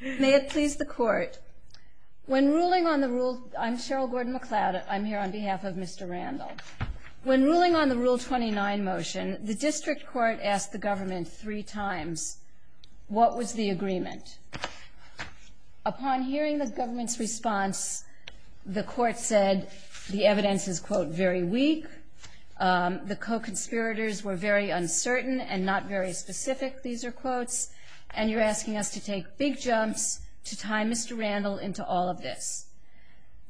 May it please the court when ruling on the rule I'm Cheryl Gordon McLeod I'm here on behalf of mr. Randall when ruling on the rule 29 motion the district court asked the government three times what was the agreement upon hearing the government's response the court said the evidence is quote very weak the co-conspirators were very uncertain and not very specific these are quotes and you're asking us to take big jumps to tie mr. Randall into all of this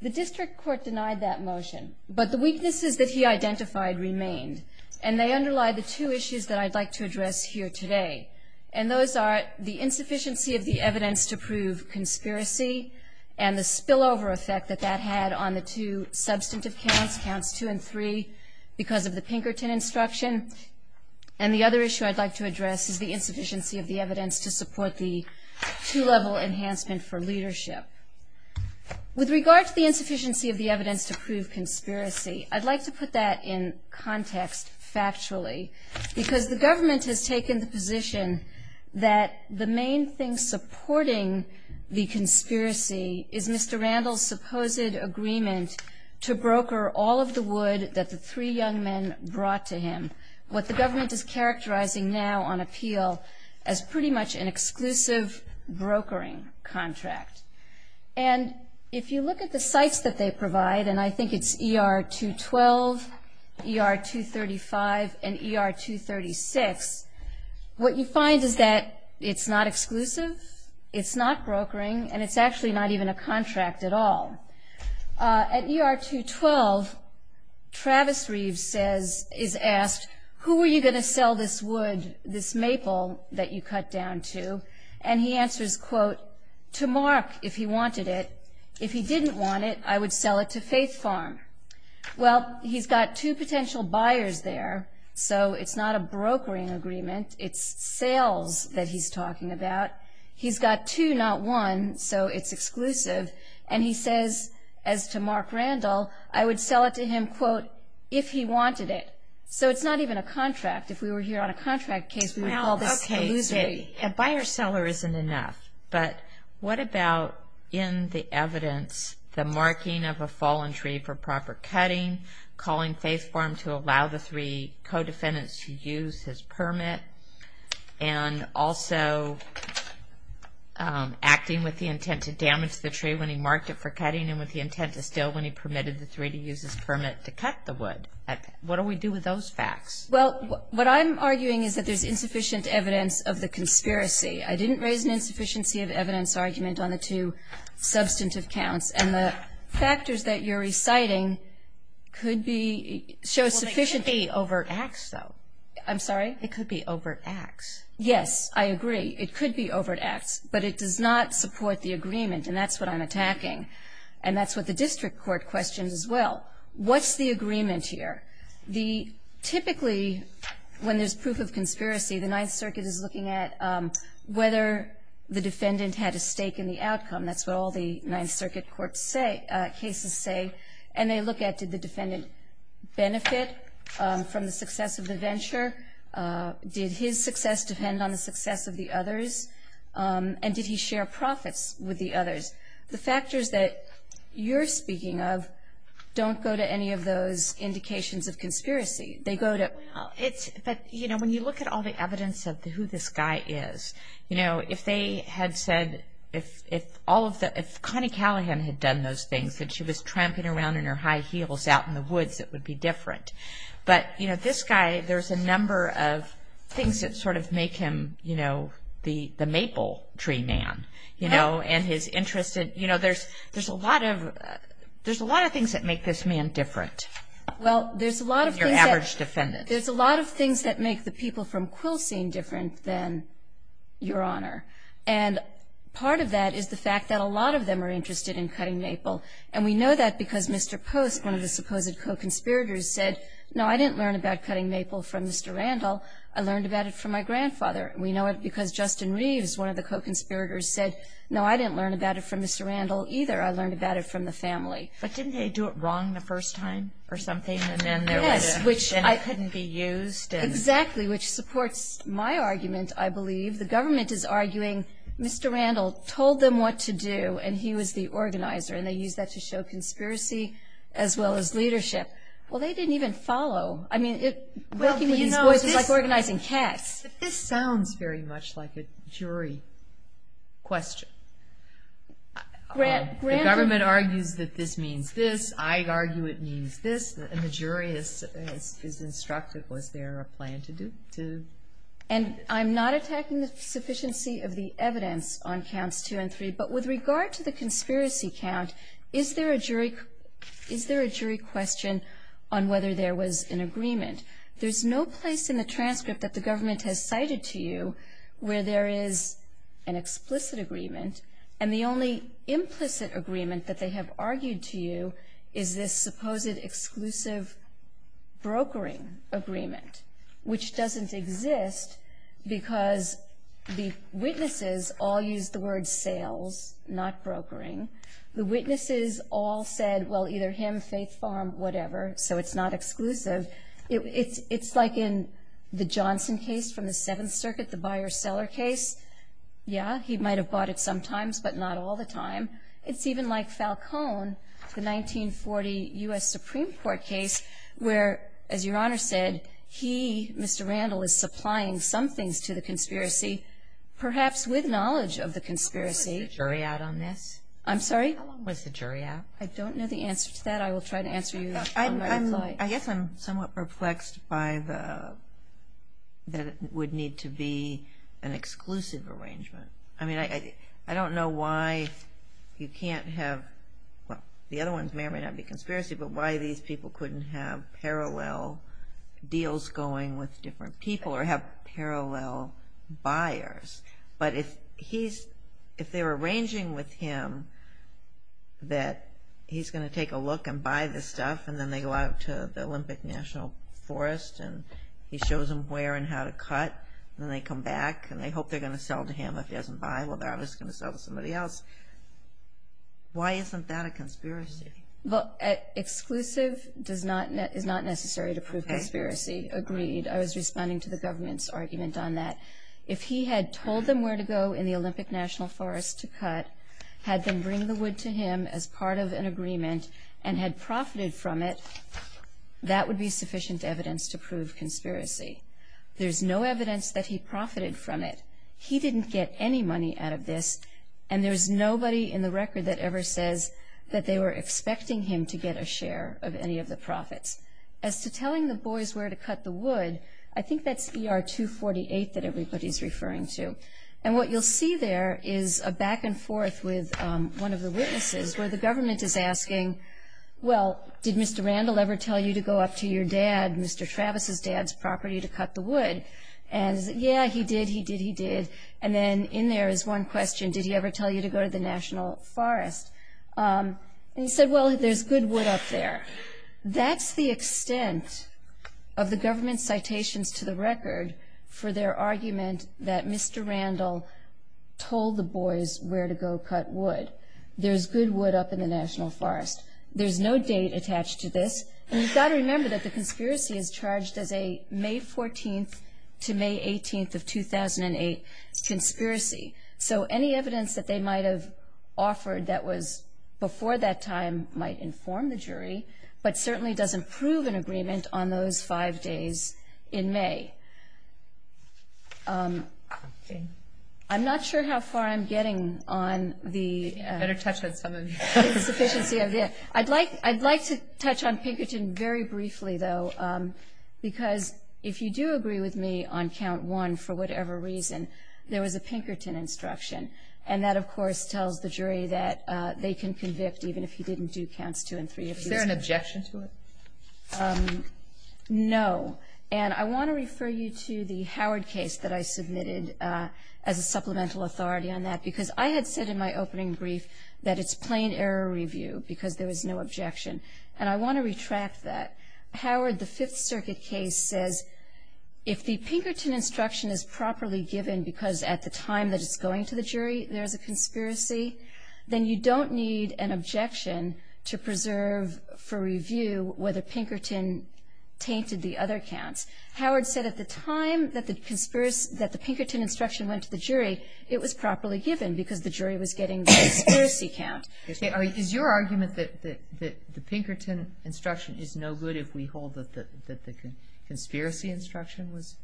the district court denied that motion but the weaknesses that he identified remained and they underlie the two issues that I'd like to address here today and those are the insufficiency of the evidence to prove conspiracy and the spillover effect that that had on the two substantive counts counts two and three because of the Pinkerton instruction and the other issue I'd like to address is the insufficiency of the evidence to support the two-level enhancement for leadership with regard to the insufficiency of the evidence to prove conspiracy I'd like to put that in context factually because the government has taken the position that the main thing supporting the conspiracy is mr. Randall's supposed agreement to broker all of the wood that the three young men brought to him what the government is characterizing now on appeal as pretty much an exclusive brokering contract and if you look at the sites that they provide and I think it's er-212 er-235 and er-236 what you find is that it's not exclusive it's not brokering and it's actually not even a contract at all at er-212 Travis Reeves says is asked who are you gonna sell this wood this maple that you cut down to and he answers quote to Mark if he wanted it if he didn't want it I would sell it to Faith Farm well he's got two potential buyers there so it's not a brokering agreement it's sales that he's talking about he's got two not one so it's exclusive and he says as to Mark Randall I would sell it to him quote if he didn't want it it's not even a contract if we were here on a contract case we would call this illusory a buyer-seller isn't enough but what about in the evidence the marking of a fallen tree for proper cutting calling Faith Farm to allow the three co-defendants to use his permit and also acting with the intent to damage the tree when he marked it for cutting and with the intent to steal when he permitted the three to use his permit to cut the wood what do we do with those facts well what I'm arguing is that there's insufficient evidence of the conspiracy I didn't raise an insufficiency of evidence argument on the two substantive counts and the factors that you're reciting could be show sufficiently overt acts though I'm sorry it could be overt acts yes I agree it could be overt acts but it does not support the agreement and that's what I'm attacking and that's what the district court questions as well what's the agreement here the typically when there's proof of conspiracy the Ninth Circuit is looking at whether the defendant had a stake in the outcome that's what all the Ninth Circuit courts say cases say and they look at did the defendant benefit from the success of the venture did his success depend on the success of the others and did he share profits with the others the indications of conspiracy they go to it's but you know when you look at all the evidence of who this guy is you know if they had said if if all of the if Connie Callahan had done those things that she was tramping around in her high heels out in the woods it would be different but you know this guy there's a number of things that sort of make him you know the the maple tree man you know and his interested you know there's there's a lot of there's a lot of things that make this man different well there's a lot of your average defendant there's a lot of things that make the people from quilts seem different than your honor and part of that is the fact that a lot of them are interested in cutting maple and we know that because mr. post one of the supposed co conspirators said no I didn't learn about cutting maple from mr. Randall I learned about it from my grandfather we know it because Justin Reeves one of the co-conspirators said no I didn't learn about it from mr. Randall either I do it wrong the first time or something and then there was which I couldn't be used exactly which supports my argument I believe the government is arguing mr. Randall told them what to do and he was the organizer and they use that to show conspiracy as well as leadership well they didn't even follow I mean it was like organizing cats this sounds very much like a jury question grant government argues that this means this I argue it means this and the jury is instructed was there a plan to do to and I'm not attacking the sufficiency of the evidence on counts two and three but with regard to the conspiracy count is there a jury is there a jury question on whether there was an agreement there's no place in the transcript that the government has cited to you where there is an explicit agreement and the only implicit agreement that they have argued to you is this supposed exclusive brokering agreement which doesn't exist because the witnesses all use the word sales not brokering the witnesses all said well either him Faith Farm whatever so it's not exclusive it's it's like in the Johnson case from the Seventh Circuit the buyer-seller case yeah he might have bought it sometimes but not all the time it's even like Falcone the 1940 US Supreme Court case where as your honor said he mr. Randall is supplying some things to the conspiracy perhaps with knowledge of the conspiracy jury out on this I'm sorry was the jury out I don't know the answer to that I will try I guess I'm somewhat perplexed by the that it would need to be an exclusive arrangement I mean I I don't know why you can't have well the other ones may or may not be conspiracy but why these people couldn't have parallel deals going with different people or have parallel buyers but if he's if they're stuff and then they go out to the Olympic National Forest and he shows them where and how to cut then they come back and they hope they're gonna sell to him if he doesn't buy well that is gonna sell to somebody else why isn't that a conspiracy well exclusive does not net is not necessary to prove conspiracy agreed I was responding to the government's argument on that if he had told them where to go in the Olympic National Forest to cut had them bring the wood to him as part of an agreement and had profited from it that would be sufficient evidence to prove conspiracy there's no evidence that he profited from it he didn't get any money out of this and there's nobody in the record that ever says that they were expecting him to get a share of any of the profits as to telling the boys where to cut the wood I think that's er 248 that everybody's referring to and what you'll see there is a back-and-forth with one of the witnesses where the government is asking well did Mr. Randall ever tell you to go up to your dad Mr. Travis's dad's property to cut the wood and yeah he did he did he did and then in there is one question did he ever tell you to go to the National Forest he said well there's good wood up there that's the extent of the government citations to the record for their argument that Mr. Randall told the boys where to go cut wood there's good wood up in the National Forest there's no date attached to this and you've got to remember that the conspiracy is charged as a May 14th to May 18th of 2008 conspiracy so any evidence that they might have offered that was before that time might inform the jury but certainly doesn't prove an agreement on those five days in May I'm not sure how far I'm getting on the better touch that someone's efficiency of it I'd like I'd like to touch on Pinkerton very briefly though because if you do agree with me on count one for whatever reason there was a Pinkerton instruction and that of course tells the jury that they can convict even if he didn't do counts two and three if there an objection to it no and I want to as a supplemental authority on that because I had said in my opening brief that it's plain error review because there was no objection and I want to retract that Howard the Fifth Circuit case says if the Pinkerton instruction is properly given because at the time that it's going to the jury there's a conspiracy then you don't need an objection to preserve for review whether Pinkerton tainted the other counts Howard said at the time that the Pinkerton instruction went to the jury it was properly given because the jury was getting conspiracy count is your argument that that the Pinkerton instruction is no good if we hold that the conspiracy instruction was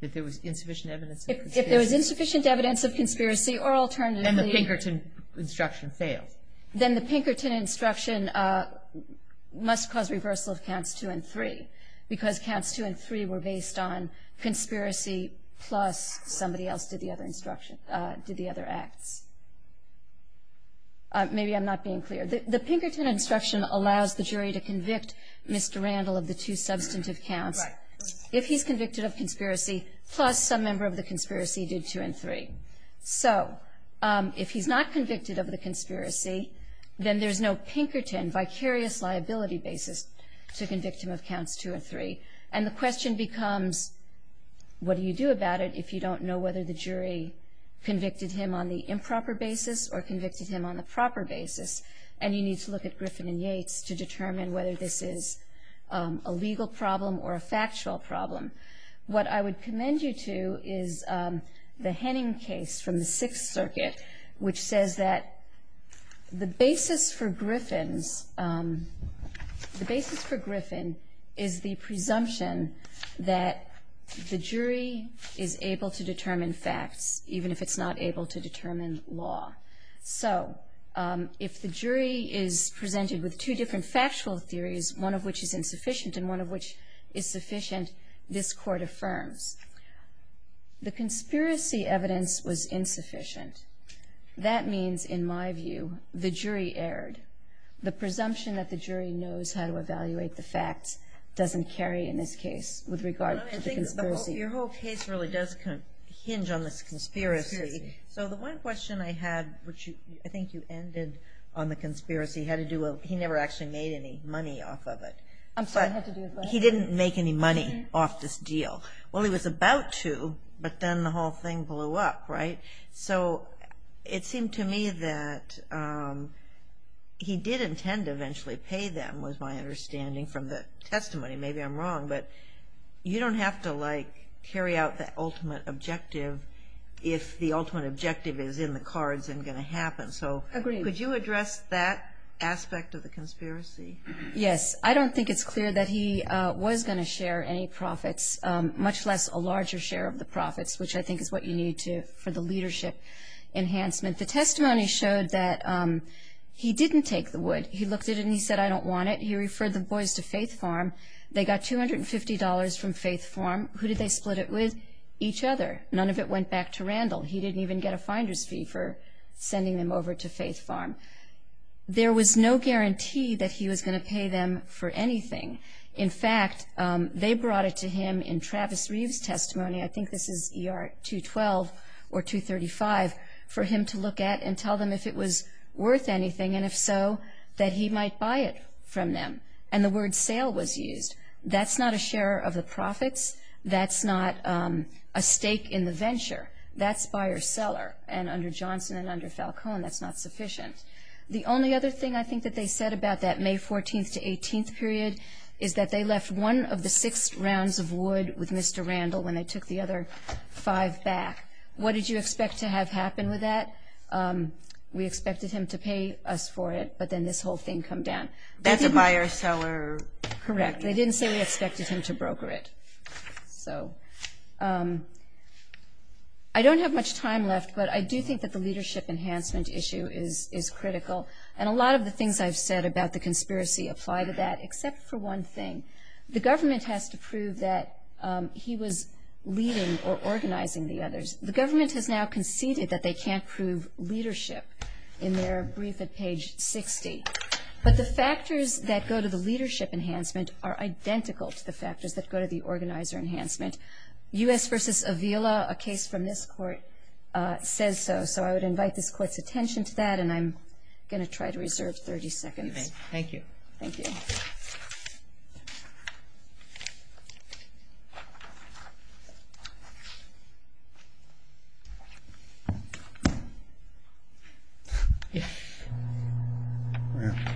if there was insufficient evidence if there was insufficient evidence of conspiracy or alternative the Pinkerton instruction fails then the Pinkerton instruction must cause reversal of counts two and three because counts two and three were based on conspiracy plus somebody else did the other instruction did the other acts maybe I'm not being clear the Pinkerton instruction allows the jury to convict mr. Randall of the two substantive counts if he's convicted of conspiracy plus some member of the conspiracy did two and three so if he's not convicted of the conspiracy then there's no Pinkerton vicarious liability basis to convict him of counts two or three and the question becomes what do you do about it if you don't know whether the jury convicted him on the improper basis or convicted him on the proper basis and you need to look at Griffin and Yates to determine whether this is a legal problem or a factual problem what I would commend you to is the Henning case from the Sixth Circuit which says that the basis for Griffin's the basis for Griffin is the presumption that the jury is able to determine facts even if it's not able to determine law so if the jury is presented with two different factual theories one of which is insufficient and one of which is sufficient this court affirms the conspiracy evidence was insufficient that means in my view the jury erred the presumption that the jury knows how to evaluate the facts doesn't carry in this case with regard to conspiracy your whole case really does hinge on this conspiracy so the one question I had which you I think you ended on the conspiracy had to do well he never actually made any money off of it I'm sorry he didn't make any money off this deal well he was about to but then the whole thing blew up right so it seemed to me that he did intend to eventually pay them was my understanding from the testimony maybe I'm wrong but you don't have to like carry out the ultimate objective if the ultimate objective is in the cards and going to happen so could you address that aspect of the conspiracy yes I don't think it's clear that he was going to share any much less a larger share of the profits which I think is what you need to for the leadership enhancement the testimony showed that he didn't take the wood he looked at and he said I don't want it you refer the boys to faith farm they got $250 from faith farm who did they split it with each other none of it went back to Randall he didn't even get a finder's fee for sending them over to faith farm there was no guarantee that he was going to pay them for anything in fact they brought it to him in Travis Reeves testimony I think this is er 212 or 235 for him to look at and tell them if it was worth anything and if so that he might buy it from them and the word sale was used that's not a share of the profits that's not a stake in the venture that's buyer-seller and under Johnson and under Falcone that's not sufficient the only other thing I think that they said about that May 14th to 18th period is that they left one of the six rounds of wood with mr. Randall when they took the other five back what did you expect to have happen with that we expected him to pay us for it but then this whole thing come down that's a buyer-seller correct they didn't say we expected him to broker it so I don't have much time left but I do think that the leadership enhancement issue is is critical and a lot of the things I've said about the conspiracy apply to that except for one thing the government has to prove that he was leading or organizing the others the government has now conceded that they can't prove leadership in their brief at page 60 but the factors that go to the leadership enhancement are identical to the factors that go to the organizer enhancement u.s. versus Avila a case from this court says so so I would invite this court's attention to that and I'm going to try to reserve 30 seconds thank you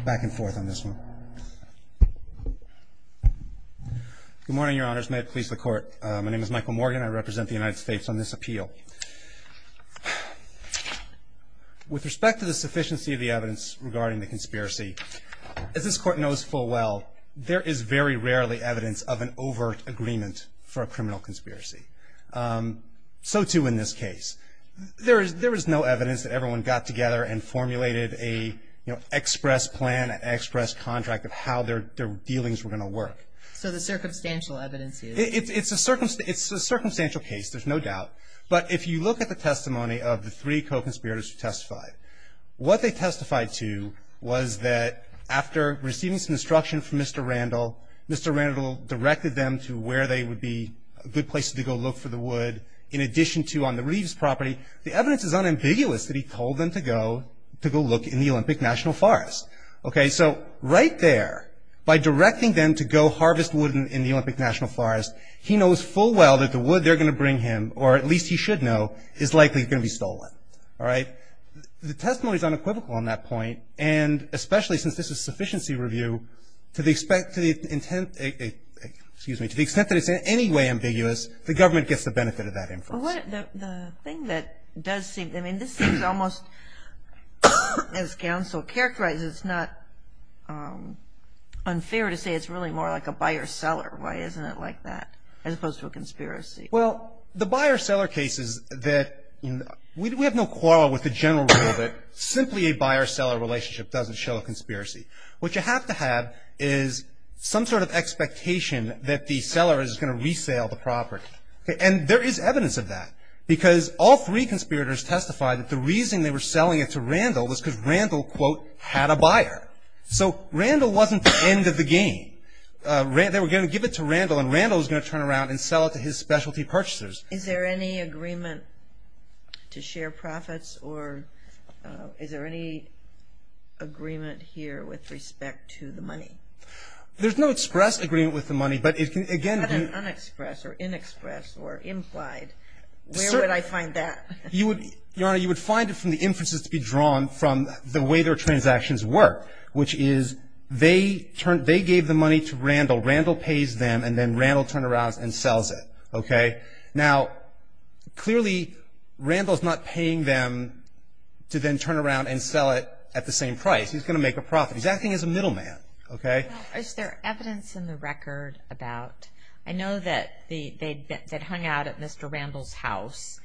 back and forth on this one good morning your honors may it please the court my with respect to the sufficiency of the evidence regarding the conspiracy as this court knows full well there is very rarely evidence of an overt agreement for a criminal conspiracy so too in this case there is there is no evidence that everyone got together and formulated a you know express plan express contract of how their dealings were going to work so the circumstantial evidence it's a circumstance it's a circumstantial case there's no doubt but if you look at the three co-conspirators who testified what they testified to was that after receiving some instruction from mr. Randall mr. Randall directed them to where they would be a good place to go look for the wood in addition to on the Reeves property the evidence is unambiguous that he told them to go to go look in the Olympic National Forest okay so right there by directing them to go harvest wooden in the Olympic National Forest he knows full well that the wood they're gonna bring him or at least he should know is likely gonna be all right the testimony is unequivocal on that point and especially since this is sufficiency review to the expect to the intent excuse me to the extent that it's in any way ambiguous the government gets the benefit of that info what the thing that does seem I mean this is almost as counsel characterized it's not unfair to say it's really more like a buyer-seller why isn't it like that as we have no quarrel with the general that simply a buyer-seller relationship doesn't show a conspiracy what you have to have is some sort of expectation that the seller is gonna resale the property and there is evidence of that because all three conspirators testified that the reason they were selling it to Randall was because Randall quote had a buyer so Randall wasn't the end of the game they were gonna give it to Randall and Randall's gonna turn around and sell it to his specialty purchasers is there any agreement to share profits or is there any agreement here with respect to the money there's no express agreement with the money but it can again express or inexpress or implied where would I find that you would you know you would find it from the inferences to be drawn from the way their transactions work which is they turned they gave the money to Randall Randall pays them and then Randall turn around and sells it okay now clearly Randall's not paying them to then turn around and sell it at the same price he's gonna make a profit he's acting as a middleman okay is there evidence in the record about I know that they'd been hung out at mr. Randall's house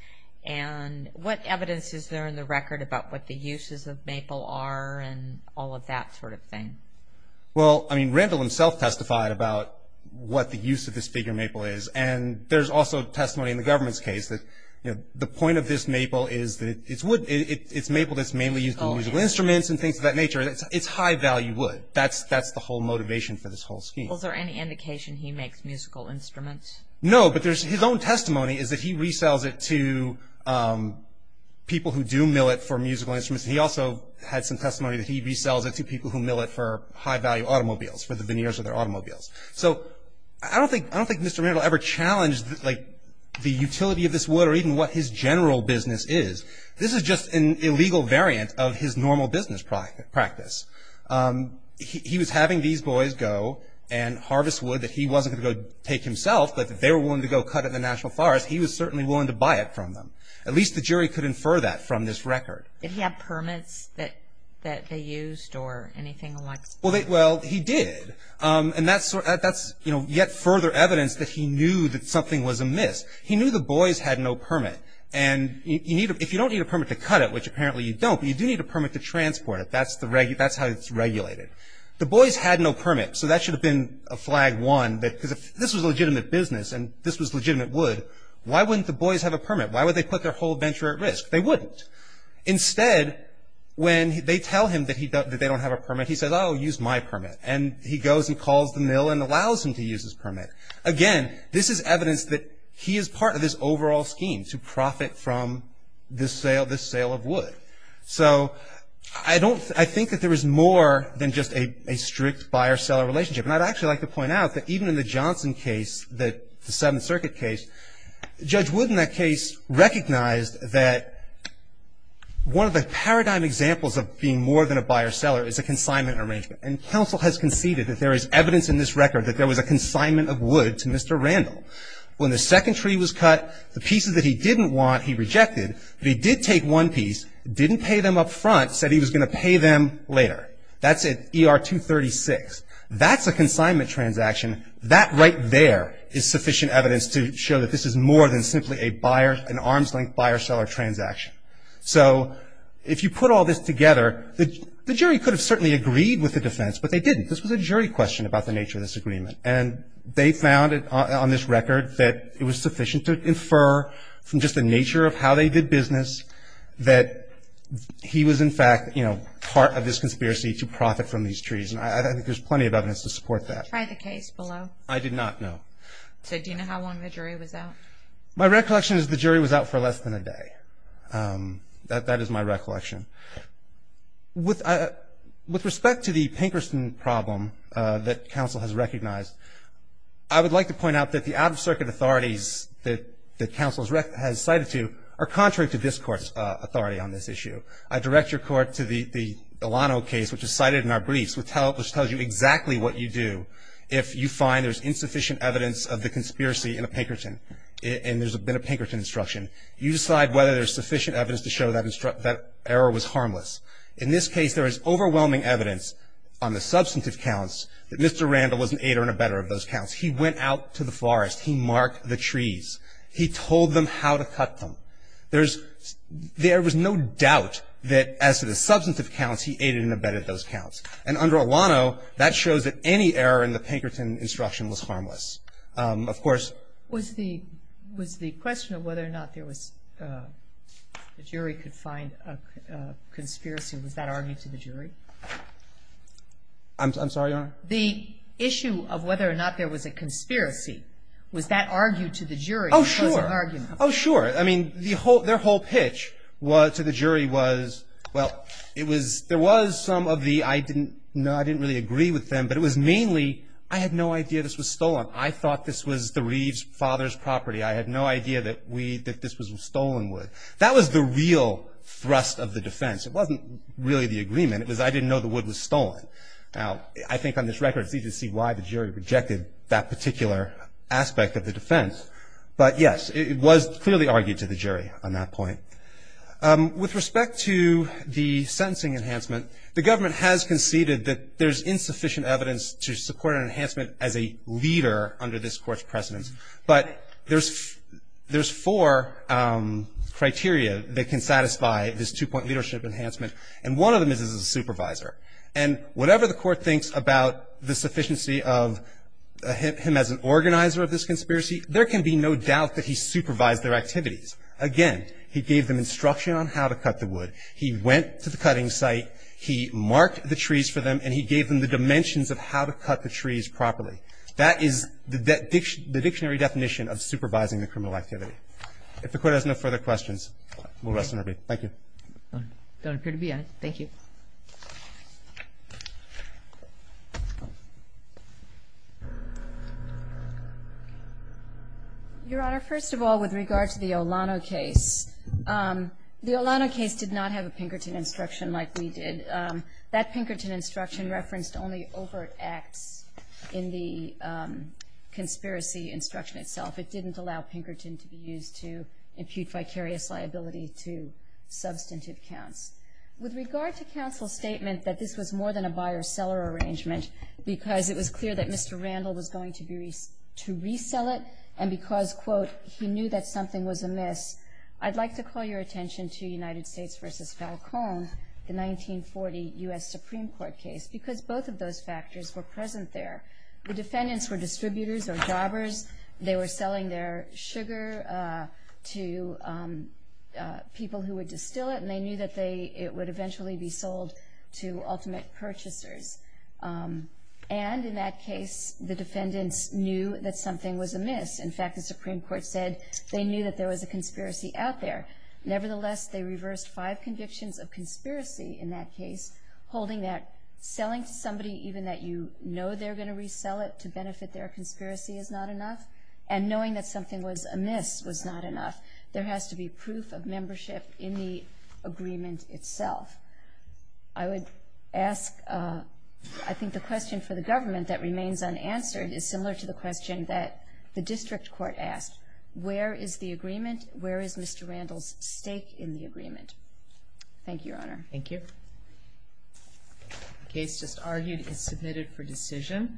and what evidence is there in the record about what the uses of maple are all of that sort of thing well I mean Randall himself testified about what the use of this bigger maple is and there's also testimony in the government's case that the point of this maple is that it's wood it's maple that's mainly used for musical instruments and things of that nature it's high-value wood that's that's the whole motivation for this whole scheme is there any indication he makes musical instruments no but there's his own testimony is that he resells it to people who do mill it for musical instruments he also had some testimony that he resells it to people who mill it for high-value automobiles for the veneers of their automobiles so I don't think I don't think mr. Randall ever challenged like the utility of this wood or even what his general business is this is just an illegal variant of his normal business practice he was having these boys go and harvest wood that he wasn't gonna go take himself but they were willing to go cut in the national forest he was certainly willing to buy it from them at least the jury could infer that from this record did he have permits that that they used or anything like well they well he did and that's that's you know yet further evidence that he knew that something was amiss he knew the boys had no permit and you need if you don't need a permit to cut it which apparently you don't you do need a permit to transport it that's the reg that's how it's regulated the boys had no permit so that should have been a flag one that because if this was legitimate business and this was legitimate wood why wouldn't the boys have a permit why would they put their whole venture at risk they wouldn't instead when they tell him that he doesn't they don't have a permit he says I'll use my permit and he goes and calls the mill and allows him to use his permit again this is evidence that he is part of this overall scheme to profit from this sale this sale of wood so I don't I think that there is more than just a strict buyer-seller relationship and I'd actually like to point out that even in the Johnson case that the circuit case judge would in that case recognized that one of the paradigm examples of being more than a buyer-seller is a consignment arrangement and counsel has conceded that there is evidence in this record that there was a consignment of wood to mr. Randall when the second tree was cut the pieces that he didn't want he rejected but he did take one piece didn't pay them up front said he was going to pay them later that's it er 236 that's a consignment transaction that right there is sufficient evidence to show that this is more than simply a buyer an arm's-length buyer-seller transaction so if you put all this together the jury could have certainly agreed with the defense but they didn't this was a jury question about the nature of this agreement and they found it on this record that it was sufficient to infer from just the nature of how they did business that he was in fact you know part of this conspiracy to I did not know my recollection is the jury was out for less than a day that that is my recollection with with respect to the Pinkerton problem that counsel has recognized I would like to point out that the out-of-circuit authorities that the council's wreck has cited to are contrary to this court's authority on this issue I direct your court to the Alano case which is cited in this case there is overwhelming evidence on the substantive counts that Mr. Randall was an aider and abettor of those counts he went out to the forest he marked the trees he told them how to cut them there's there was no doubt that as to the substantive counts he aided and abetted those counts and under a any error in the Pinkerton instruction was harmless of course was the was the question of whether or not there was a jury could find a conspiracy was that argued to the jury I'm sorry on the issue of whether or not there was a conspiracy was that argued to the jury oh sure oh sure I mean the whole their whole pitch was to the jury was well it was there was some of the I didn't know didn't really agree with them but it was mainly I had no idea this was stolen I thought this was the Reeves father's property I had no idea that we that this was stolen wood that was the real thrust of the defense it wasn't really the agreement it was I didn't know the wood was stolen now I think on this record see to see why the jury rejected that particular aspect of the defense but yes it was clearly argued to the jury on that point with respect to the sentencing enhancement the government has conceded that there's insufficient evidence to support an enhancement as a leader under this court's precedence but there's there's four criteria that can satisfy this two-point leadership enhancement and one of them is as a supervisor and whatever the court thinks about the sufficiency of him as an organizer of this conspiracy there can be no doubt that he supervised their activities again he gave them instruction on how to site he marked the trees for them and he gave them the dimensions of how to cut the trees properly that is that the dictionary definition of supervising the criminal activity if the court has no further questions thank you thank you your honor first of all with regard to the Olano case the Olano case did not have a Pinkerton instruction like we did that Pinkerton instruction referenced only overt acts in the conspiracy instruction itself it didn't allow Pinkerton to be used to impute vicarious liability to substantive counts with regard to counsel statement that this was more than a buyer-seller arrangement because it was clear that mr. Randall was going to be to resell it and because quote he knew that something was amiss I'd like to call your attention to United States versus Falcone the 1940 US Supreme Court case because both of those factors were present there the defendants were distributors or jobbers they were selling their sugar to people who would distill it and they knew that they it would eventually be sold to ultimate purchasers and in that case the defendants knew that something was amiss in fact the Supreme Court said they knew that there was a conspiracy out there nevertheless they reversed five convictions of conspiracy in that case holding that selling somebody even that you know they're going to resell it to benefit their conspiracy is not enough and knowing that something was amiss was not enough there has to be proof of membership in the agreement itself I would ask I think the question for the government that remains unanswered is similar to the question that the agreement where is mr. Randall's stake in the agreement thank you your honor thank you case just argued is submitted for decision